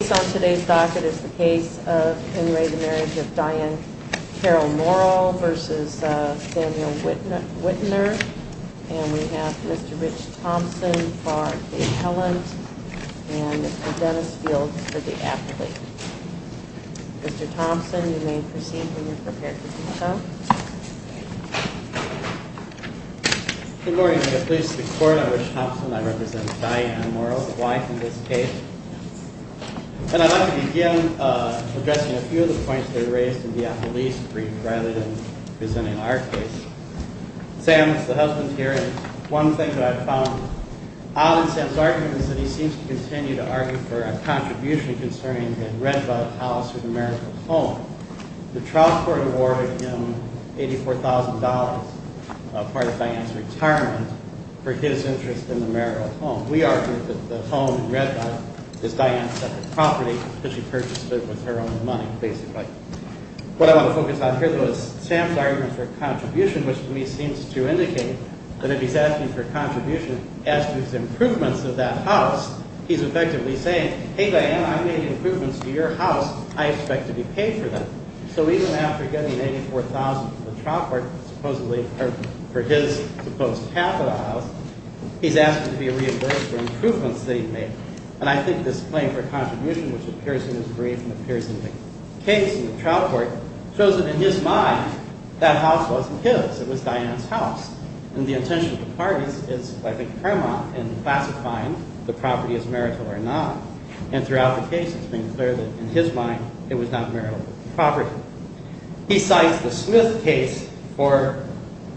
Based on today's docket, it's the case of Henry the Marriage of Diane Carroll Morrow v. Daniel Wittner. And we have Mr. Rich Thompson for the appellant, and Mr. Dennis Fields for the appellant. Mr. Thompson, you may proceed when you're prepared to do so. Good morning. I'm pleased to be court. I'm Rich Thompson. I represent Diane Morrow, the wife in this case. And I'd like to begin addressing a few of the points that were raised in the appellee's brief rather than presenting our case. Sam's the husband here, and one thing that I've found odd in Sam's argument is that he seems to continue to argue for a contribution concerning the red-butted house or the marital home. The trial court awarded him $84,000 as part of Diane's retirement for his interest in the marital home. We argue that the home in red-butt is Diane's separate property that she purchased with her own money, basically. What I want to focus on here, though, is Sam's argument for a contribution, which to me seems to indicate that if he's asking for a contribution as to his improvements of that house, he's effectively saying, hey, Diane, I'm making improvements to your house. I expect to be paid for them. So even after getting $84,000 from the trial court supposedly for his supposed capital house, he's asking to be reimbursed for improvements that he made. And I think this claim for contribution, which appears in his brief and appears in the case in the trial court, shows that in his mind, that house wasn't his. It was Diane's house. And the intention of the parties is, I think, paramount in classifying the property as marital or not. And throughout the case, it's been clear that in his mind, it was not marital property. He cites the Smith case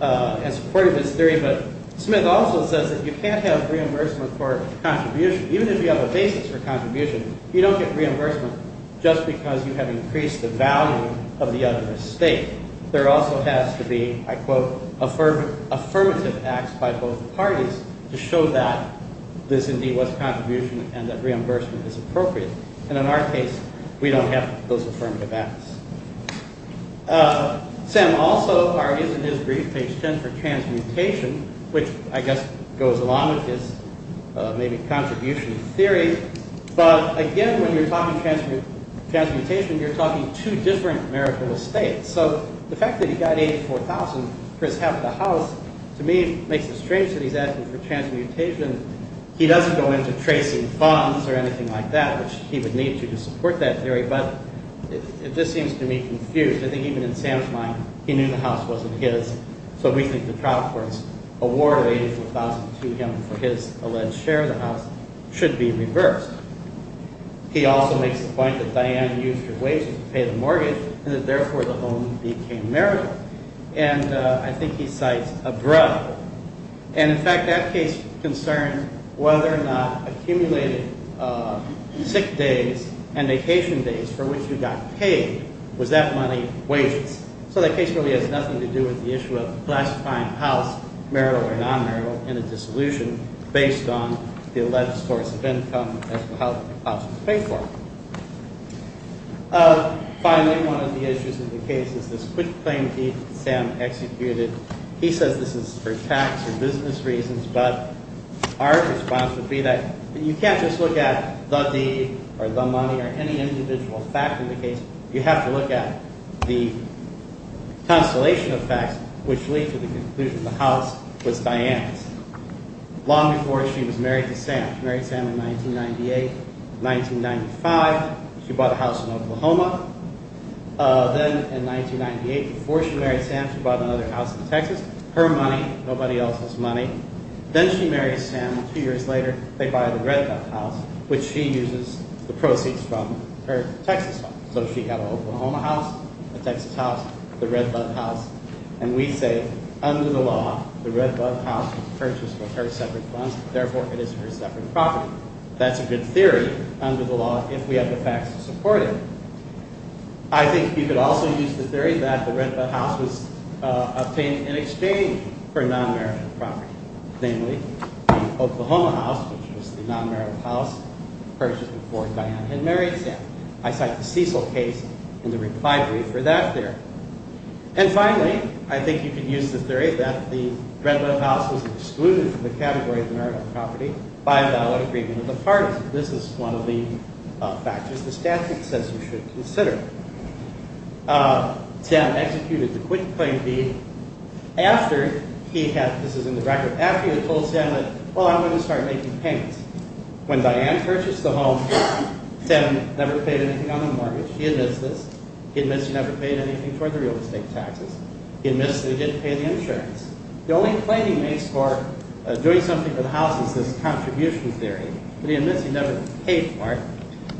as part of his theory, but Smith also says that you can't have reimbursement for contribution. Even if you have a basis for contribution, you don't get reimbursement just because you have increased the value of the other estate. There also has to be, I quote, affirmative acts by both parties to show that this indeed was contribution and that reimbursement is appropriate. And in our case, we don't have those affirmative acts. Sam also argues in his brief, page 10, for transmutation, which I guess goes along with his maybe contribution theory. But again, when you're talking transmutation, you're talking two different marital estates. So the fact that he got $84,000 for his half of the house, to me, makes it strange that he's asking for transmutation. He doesn't go into tracing bonds or anything like that, which he would need to to support that theory. But it just seems to me confused. I think even in Sam's mind, he knew the house wasn't his. So we think the trial court's award of $84,000 to him for his alleged share of the house should be reversed. He also makes the point that Diane used her wages to pay the mortgage and that therefore the home became marital. And I think he cites a drug. And in fact, that case concerned whether or not accumulated sick days and vacation days for which we got paid, was that money wages. So that case really has nothing to do with the issue of classifying a house, marital or non-marital, in a dissolution based on the alleged source of income as to how the house was paid for. Finally, one of the issues in the case is this quick claim that Sam executed. He says this is for tax or business reasons, but our response would be that you can't just look at the deed or the money or any individual fact in the case. You have to look at the constellation of facts which lead to the conclusion the house was Diane's, long before she was married to Sam. She married Sam in 1998. In 1995, she bought a house in Oklahoma. Then in 1998, before she married Sam, she bought another house in Texas. Her money, nobody else's money. Then she marries Sam. Two years later, they buy the Redbud house, which she uses the proceeds from her Texas home. So she had an Oklahoma house, a Texas house, the Redbud house. And we say under the law, the Redbud house was purchased with her separate funds. Therefore, it is her separate property. That's a good theory under the law if we have the facts to support it. I think you could also use the theory that the Redbud house was obtained in exchange for non-marital property. Namely, the Oklahoma house, which was the non-marital house purchased before Diane had married Sam. I cite the Cecil case in the reply brief for that theory. And finally, I think you could use the theory that the Redbud house was excluded from the category of marital property by a valid agreement of the parties. This is one of the factors the statute says you should consider. Sam executed the quick claim deed after he had, this is in the record, after he had told Sam that, well, I'm going to start making payments. When Diane purchased the home, Sam never paid anything on the mortgage. He admits this. He admits he never paid anything for the real estate taxes. He admits that he didn't pay the insurance. The only claim he makes for doing something for the house is this contribution theory. But he admits he never paid for it.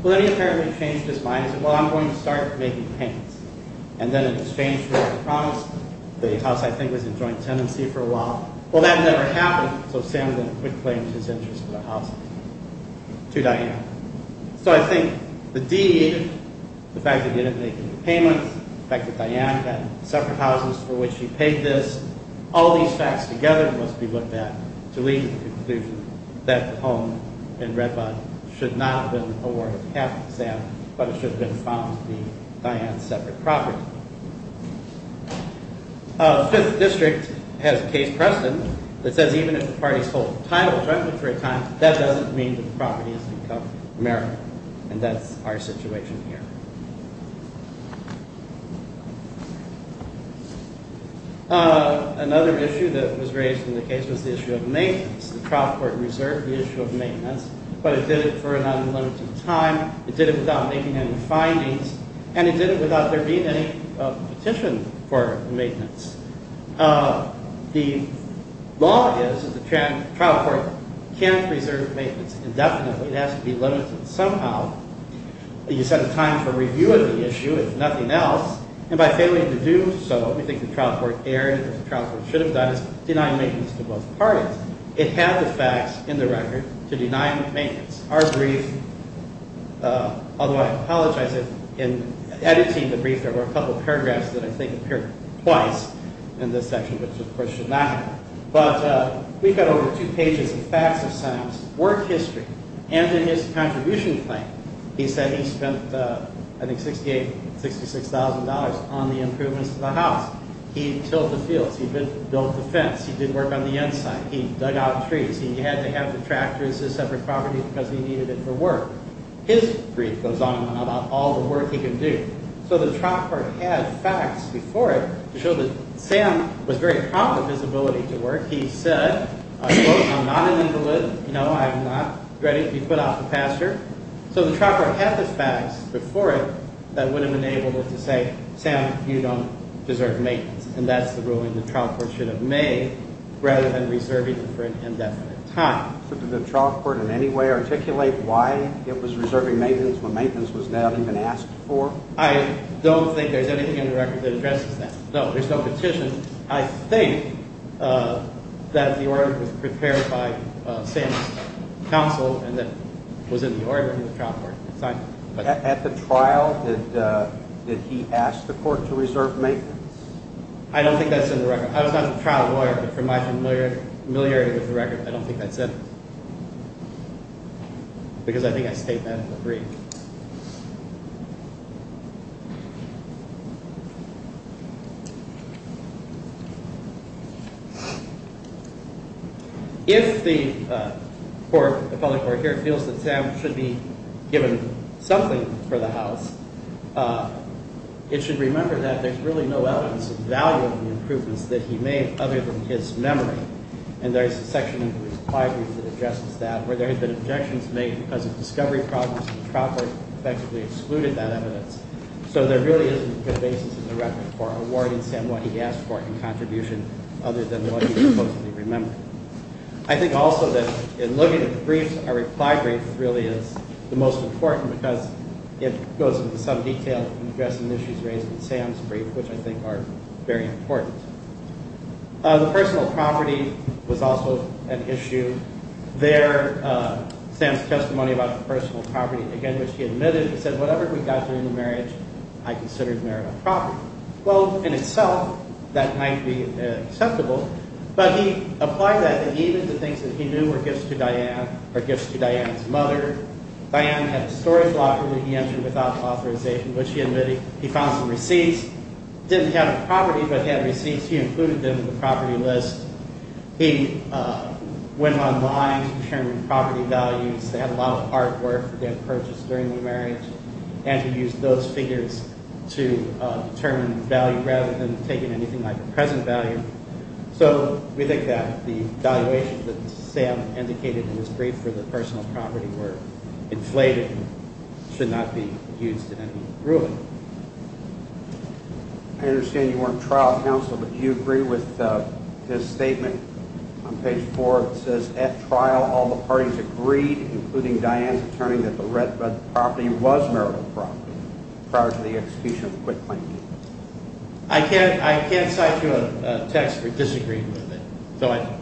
Well, then he apparently changed his mind and said, well, I'm going to start making payments. And then in exchange for the promise, the house, I think, was in joint tenancy for a while. Well, that never happened, so Sam did a quick claim to his interest in the house to Diane. So I think the deed, the fact that he didn't make any payments, the fact that Diane had separate houses for which she paid this, all these facts together must be looked at to lead to the conclusion that the home in Red Bond should not have been awarded to Sam, but it should have been found to be Diane's separate property. The Fifth District has a case precedent that says even if the parties hold titles, that doesn't mean that the property is to become American, and that's our situation here. Another issue that was raised in the case was the issue of maintenance. The trial court reserved the issue of maintenance, but it did it for an unlimited time. It did it without making any findings, and it did it without there being any petition for maintenance. The law is that the trial court can't reserve maintenance indefinitely. It has to be limited somehow. You set a time for review of the issue, if nothing else, and by failing to do so, what we think the trial court erred or the trial court should have done is deny maintenance to both parties. It had the facts in the record to deny maintenance. Our brief, although I apologize if in editing the brief there were a couple of paragraphs that I think appear twice in this section, which of course should not happen, but we've got over two pages of facts of Sam's work history, and in his contribution claim. He said he spent, I think, $68,000, $66,000 on the improvements to the house. He tilled the fields. He built the fence. He did work on the inside. He dug out trees. He had to have the tractor as his separate property because he needed it for work. His brief goes on about all the work he can do. So the trial court had facts before it to show that Sam was very proud of his ability to work. He said, I quote, I'm not an invalid. No, I'm not ready to be put off the pasture. So the trial court had the facts before it that would have enabled it to say, Sam, you don't deserve maintenance, and that's the ruling the trial court should have made rather than reserving it for an indefinite time. Did the trial court in any way articulate why it was reserving maintenance when maintenance was not even asked for? I don't think there's anything in the record that addresses that. No, there's no petition. I think that the order was prepared by Sam's counsel and that was in the order in the trial court. At the trial, did he ask the court to reserve maintenance? I don't think that's in the record. I was not the trial lawyer, but from my familiarity with the record, I don't think that's in it because I think I state that in the brief. If the court, the public court here, feels that Sam should be given something for the house, it should remember that there's really no evidence of value in the improvements that he made other than his memory. And there's a section in the reply brief that addresses that where there had been objections made because of discovery problems and the trial court effectively excluded that evidence. So there really isn't good basis in the record for awarding Sam what he asked for in contribution other than what he supposedly remembered. I think also that in looking at the briefs, a reply brief really is the most important because it goes into some detail in addressing issues raised in Sam's brief, which I think are very important. There, Sam's testimony about the personal property, again, which he admitted, it said whatever we got during the marriage, I considered merit of property. Well, in itself, that might be acceptable, but he applied that even to things that he knew were gifts to Diane or gifts to Diane's mother. Diane had a storage locker that he entered without authorization, which he admitted he found some receipts. Didn't have a property, but he had receipts. He included them in the property list. He went online, determined property values. They had a lot of hard work that he had purchased during the marriage, and he used those figures to determine value rather than taking anything like the present value. So we think that the valuation that Sam indicated in his brief for the personal property were inflated and should not be used in any ruling. I understand you weren't trial counsel, but do you agree with his statement on page 4? It says, at trial, all the parties agreed, including Diane's attorney, that the property was merit of property prior to the execution of the quitclaim deed. I can't cite you a text for disagreeing with it, so I don't.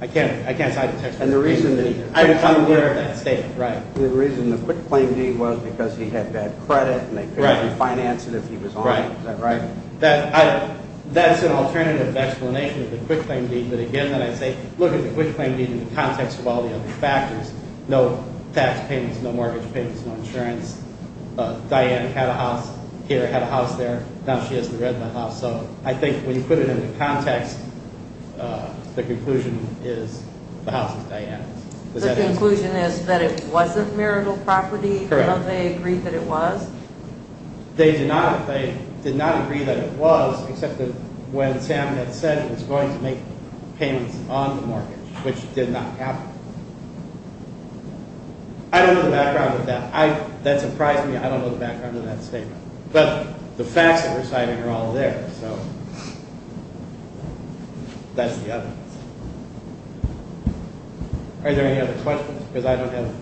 I can't cite a text for disagreeing with it either. And the reason the quitclaim deed was because he said it. He had bad credit, and they couldn't refinance it if he was on it. Is that right? That's an alternative explanation of the quitclaim deed. But again, then I say, look at the quitclaim deed in the context of all the other factors. No tax payments, no mortgage payments, no insurance. Diane had a house here, had a house there. Now she hasn't read the house. So I think when you put it into context, the conclusion is the house is Diane's. The conclusion is that it wasn't merit of property? Correct. They agreed that it was? They did not agree that it was, except that when Sam had said it was going to make payments on the mortgage, which did not happen. I don't know the background of that. That surprised me. I don't know the background of that statement. But the facts that were cited are all there, so that's the evidence. Are there any other questions? Because I don't have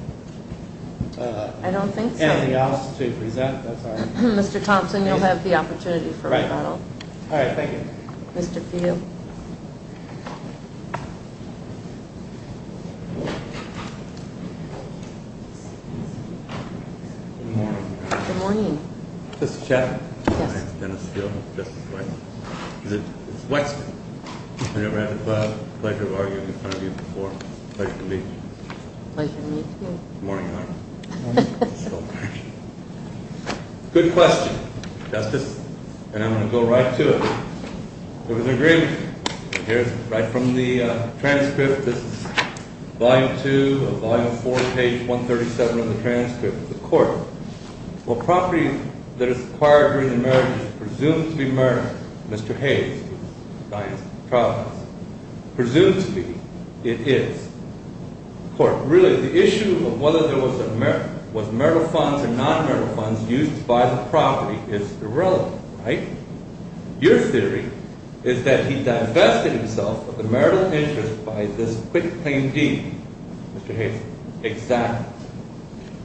anything else to present. I don't think so. Mr. Thompson, you'll have the opportunity for a rebuttal. All right. Thank you. Mr. Pugh. Good morning. Good morning. Mr. Chaffin? Yes. My name is Dennis Hill. Justice Wexner. Is it? It's Wexner. I've never had the pleasure of arguing in front of you before. Pleasure to meet you. Pleasure to meet you. Good morning. Good morning. Good question. Justice, and I'm going to go right to it. There was an agreement. Here's right from the transcript. This is Volume 2 of Volume 4, page 137 of the transcript of the court. Well, property that is acquired during the merger is presumed to be mergers. Mr. Hayes, who is the client's trial defense, presumes to be. It is. Court, really, the issue of whether there was marital funds or non-marital funds used by the property is irrelevant, right? Your theory is that he divested himself of the marital interest by this quick claim deed. Mr. Hayes. Exactly.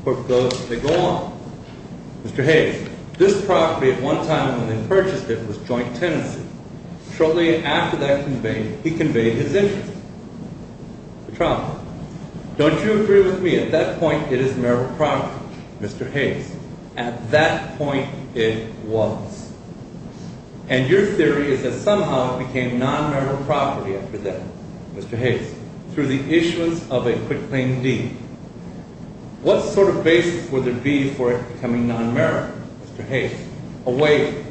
Court goes on. Mr. Hayes, this property, at one time when they purchased it, was joint tenancy. Shortly after that, he conveyed his interest. Your trial defense. Don't you agree with me? At that point, it is marital property. Mr. Hayes, at that point, it was. And your theory is that somehow it became non-marital property after that. Mr. Hayes, through the issuance of a quick claim deed. What sort of basis would there be for it becoming non-marital? Mr. Hayes. A weight.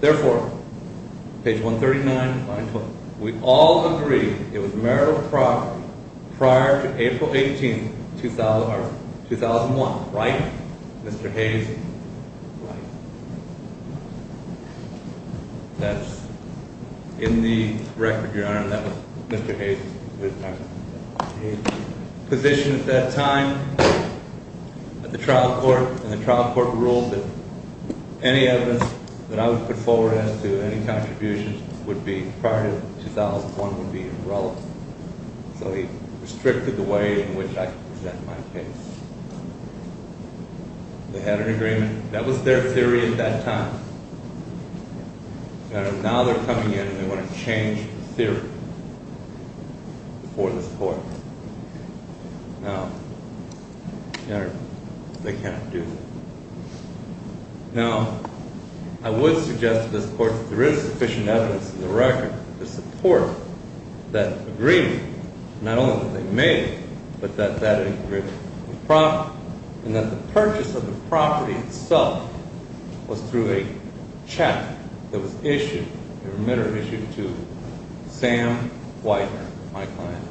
Therefore, page 139, line 12. We all agree it was marital property prior to April 18, 2001. Right? Right. That's in the record, Your Honor. That was Mr. Hayes. Mr. Hayes. Position at that time at the trial court. And the trial court ruled that any evidence that I would put forward as to any contributions would be prior to 2001 would be irrelevant. So he restricted the way in which I could present my case. They had an agreement. That was their theory at that time. Your Honor, now they're coming in and they want to change the theory before this court. Now, Your Honor, they can't do that. Now, I would suggest to this court that there is sufficient evidence in the record to support that agreement. Not only that they made it, but that that agreement was proper. And that the purchase of the property itself was through a check that was issued, a remitter issued to Sam Weidner, my client,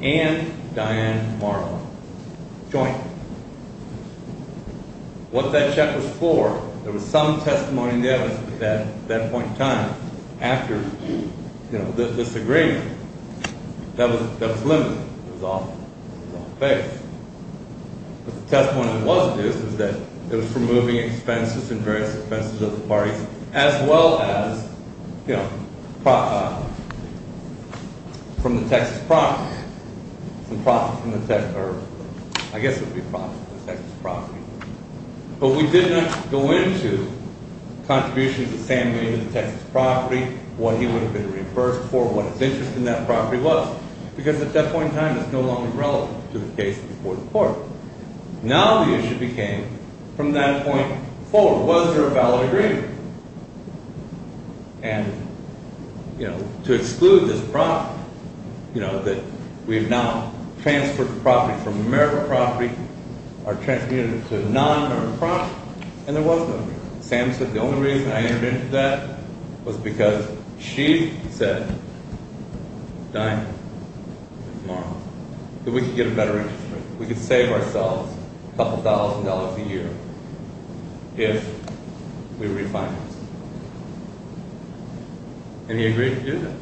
and Diane Marlowe, jointly. What that check was for, there was some testimony in the evidence at that point in time after, you know, this agreement. That was limited. It was all fair. But the testimony was this, is that it was for moving expenses and various expenses of the parties, as well as, you know, from the Texas property. Some profits from the Texas, or I guess it would be profits from the Texas property. But we did not go into contributions of Sam Weidner to the Texas property, what he would have been reimbursed for, what his interest in that property was. Because at that point in time, it's no longer relevant to the case before the court. Now the issue became, from that point forward, was there a valid agreement? And, you know, to exclude this property, you know, that we have now transferred the property from a meritable property, or transmitted it to a non-meritable property, and there was no reason. Sam said the only reason I entered into that was because she said, Diane and Marlowe, that we could get a better interest rate. We could save ourselves a couple thousand dollars a year if we refinanced. And he agreed to do that.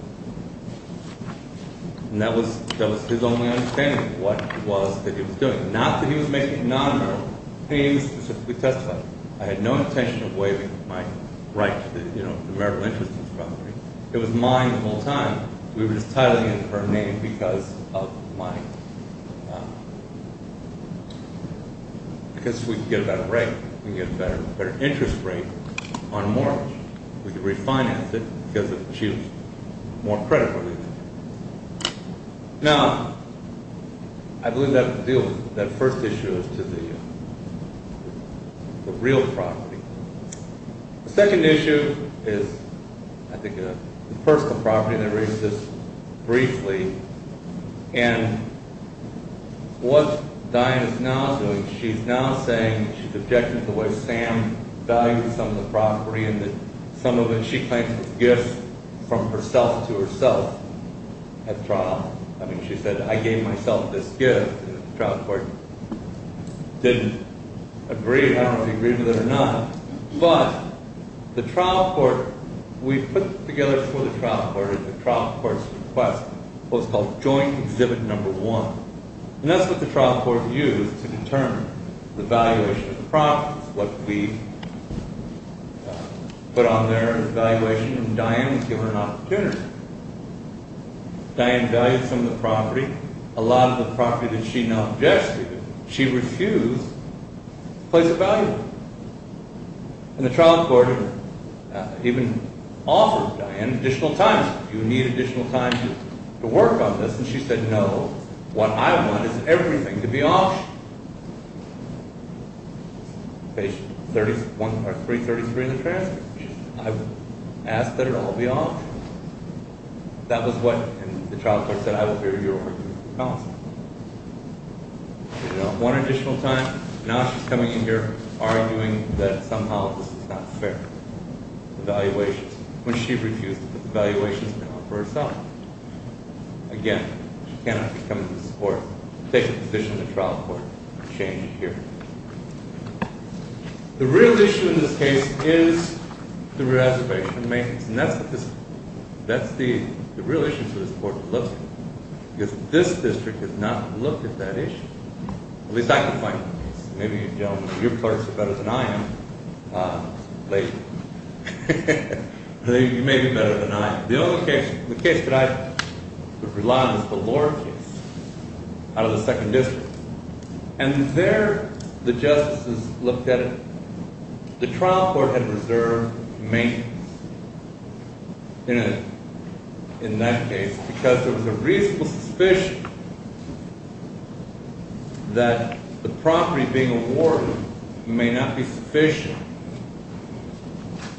And that was his only understanding of what it was that he was doing. Not that he was making it non-meritable. He specifically testified. I had no intention of waiving my right to the, you know, the meritable interest in the property. It was mine the whole time. We were just titling it her name because of mine. Because we could get a better rate. We could get a better interest rate on Marlowe. We could refinance it because she was more credible. Now, I believe that first issue is to the real property. The second issue is, I think, the personal property, and I raised this briefly. And what Diane is now doing, she's now saying, she's objecting to the way Sam valued some of the property and that some of it she claims was gifts from herself to herself at trial. I mean, she said, I gave myself this gift. The trial court didn't agree. I don't know if they agreed to that or not. But the trial court, we put together for the trial court at the trial court's request what was called Joint Exhibit No. 1. And that's what the trial court used to determine the valuation of the property. It's what we put on there as valuation. And Diane was given an opportunity. Diane valued some of the property. A lot of the property that she now objected to, she refused to place a value on. And the trial court even offered Diane additional time. Do you need additional time to work on this? And she said, no. What I want is everything to be auctioned. Page 333 in the transcript. I asked that it all be auctioned. That was what the trial court said, I will hear your argument. One additional time. Now she's coming in here arguing that somehow this is not fair. The valuations. When she refused to put the valuations on for herself. Again, she cannot come to this court, take a position in the trial court, and change it here. The real issue in this case is the reservation and maintenance. And that's the real issue for this court to look at. Because this district has not looked at that issue. At least I can find the case. Maybe, gentlemen, your parts are better than I am. You may be better than I am. The only case that I could rely on is the Lord case. Out of the second district. And there the justices looked at it. The trial court had reserved maintenance. In that case. Because there was a reasonable suspicion. That the property being awarded may not be sufficient.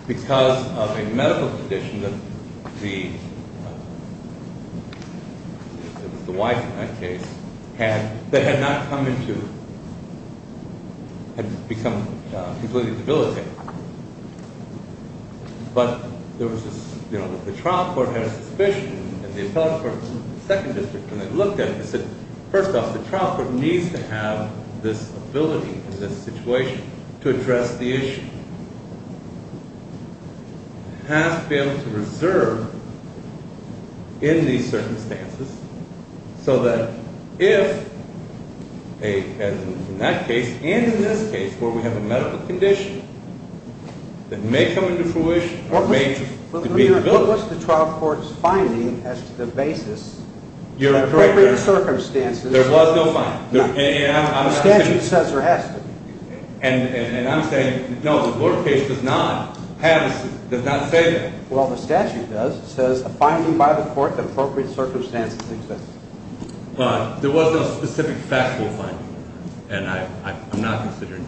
Because of a medical condition that the wife in that case had. That had not come into, had become completely debilitated. But there was this, you know, the trial court had a suspicion. And the appellate court in the second district, when they looked at it, they said, First off, the trial court needs to have this ability in this situation to address the issue. It has to be able to reserve in these circumstances. So that if, as in that case, and in this case, where we have a medical condition. That may come into fruition, or may be debilitated. What was the trial court's finding as to the basis that appropriate circumstances. There was no finding. The statute says there has to be. And I'm saying, no, the Lord case does not have, does not say that. Well, the statute does. It says a finding by the court that appropriate circumstances exist. But there was no specific factual finding. And I'm not going to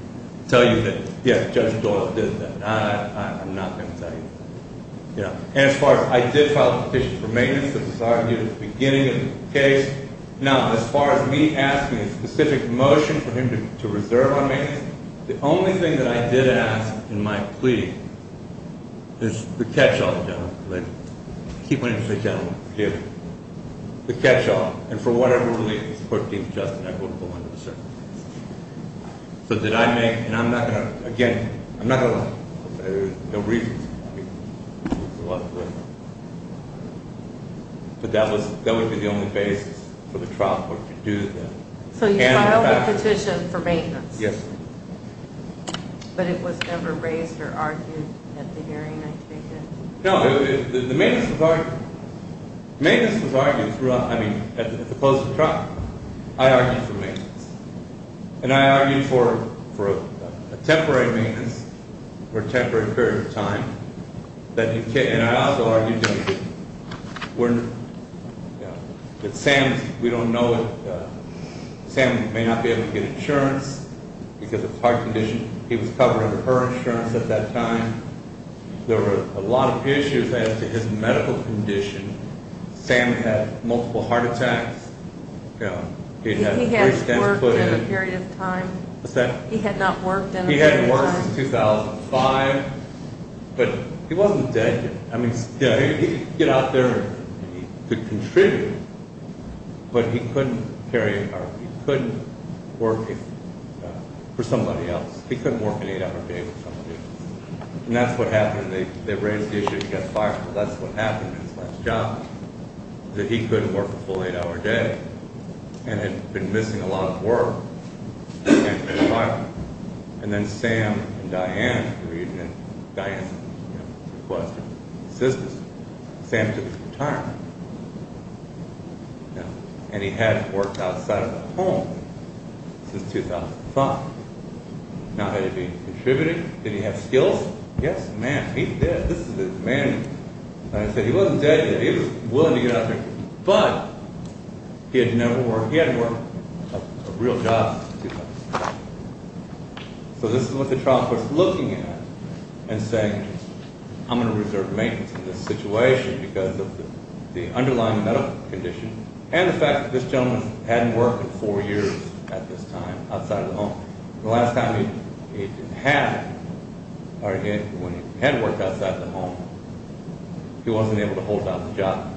tell you that Judge Dorff did that. I'm not going to tell you. And as far as, I did file a petition for maintenance. This was argued at the beginning of the case. Now, as far as me asking a specific motion for him to reserve on maintenance. The only thing that I did ask in my plea is the catch-all, gentlemen. I keep wanting to say gentlemen. The catch-all. And for whatever reason, the court deemed just and equitable under the circumstances. So, did I make, and I'm not going to, again, I'm not going to lie. There's no reason. But that would be the only basis for the trial court to do that. So, you filed a petition for maintenance? Yes. But it was never raised or argued at the hearing I take it? No, the maintenance was argued. Maintenance was argued throughout, I mean, at the proposed trial. I argued for maintenance. And I argued for a temporary maintenance for a temporary period of time. And I also argued that Sam, we don't know, Sam may not be able to get insurance because of heart condition. He was covered under her insurance at that time. There were a lot of issues as to his medical condition. Sam had multiple heart attacks. He had not worked in a period of time. He hadn't worked since 2005. But he wasn't dead yet. I mean, he could get out there and he could contribute. But he couldn't carry, or he couldn't work for somebody else. He couldn't work an eight-hour day with somebody else. And that's what happened. They raised the issue, he got fired, but that's what happened in his last job. That he couldn't work a full eight-hour day. And had been missing a lot of work. And got fired. And then Sam and Diane, Diane requested assistance. Sam took his retirement. And he hadn't worked outside of the home since 2005. Now, had he been contributing? Did he have skills? Yes, ma'am, he did. This is a man, like I said, he wasn't dead yet. He was willing to get out there. But he had never worked, he hadn't worked a real job since 2005. So this is what the trial court's looking at and saying, I'm going to reserve maintenance in this situation because of the underlying medical condition. And the fact that this gentleman hadn't worked in four years at this time outside of the home. The last time he had worked outside of the home, he wasn't able to hold out the job.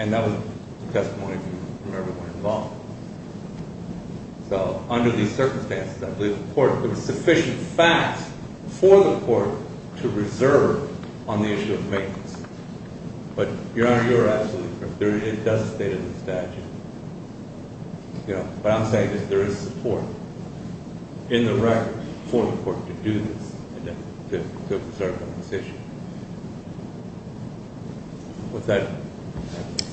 And that was the testimony from everyone involved. So under these circumstances, I believe the court, there were sufficient facts for the court to reserve on the issue of maintenance. But Your Honor, you're absolutely correct. It does state in the statute. But I'm saying that there is support in the record for the court to do this, to reserve on this issue. With that, thank you.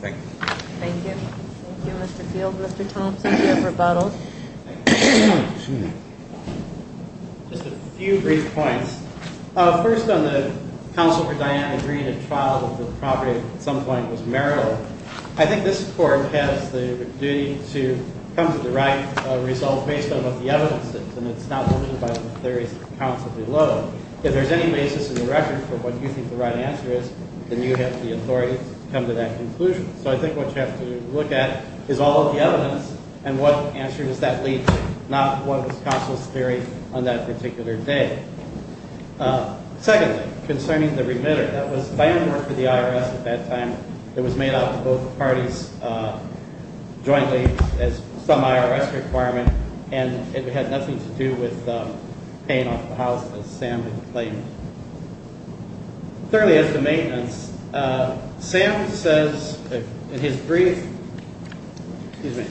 Thank you. Thank you, Mr. Field. Mr. Thompson, you have rebuttaled. Just a few brief points. First, on the counsel for Diana Green, a trial of the property at some point was marital. I think this court has the duty to come to the right results based on what the evidence is. And it's not limited by the theories of the counsel below. If there's any basis in the record for what you think the right answer is, then you have the authority to come to that conclusion. So I think what you have to look at is all of the evidence and what answer does that lead to, not what was counsel's theory on that particular day. Secondly, concerning the remitter, that was Diana's work for the IRS at that time. It was made out to both parties jointly as some IRS requirement. And it had nothing to do with paying off the house, as Sam had claimed. Thirdly, as to maintenance, Sam says in his brief, excuse me,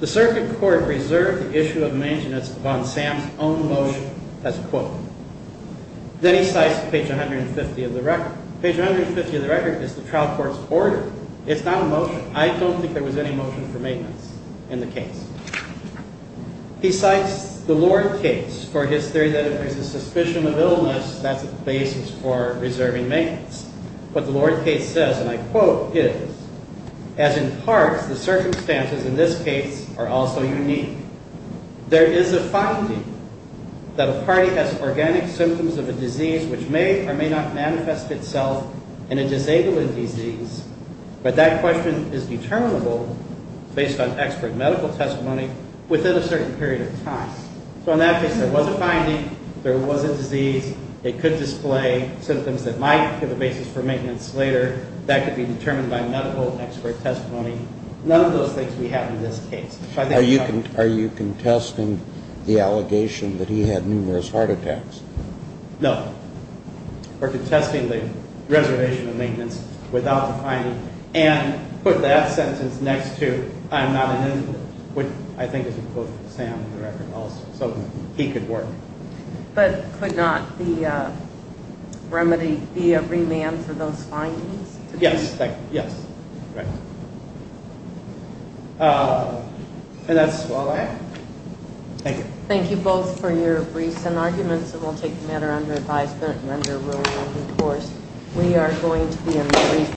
the circuit court reserved the issue of maintenance upon Sam's own motion as a quote. Then he cites page 150 of the record. Page 150 of the record is the trial court's order. It's not a motion. I don't think there was any motion for maintenance in the case. He cites the Lord case for his theory that if there's a suspicion of illness, that's the basis for reserving maintenance. What the Lord case says, and I quote, is, as in parts, the circumstances in this case are also unique. There is a finding that a party has organic symptoms of a disease which may or may not manifest itself in a disabling disease, but that question is determinable based on expert medical testimony within a certain period of time. So in that case, there was a finding. There was a disease. It could display symptoms that might give a basis for maintenance later. That could be determined by medical expert testimony. None of those things we have in this case. Are you contesting the allegation that he had numerous heart attacks? No. We're contesting the reservation of maintenance without the finding, and put that sentence next to I'm not an invalid, which I think is a quote from Sam in the record also. So he could work. But could not the remedy be a remand for those findings? Yes, thank you. Yes. Right. And that's all I have. Thank you. Thank you both for your briefs and arguments, and we'll take the matter under advisement and under a rule of open course. We are going to be in brief.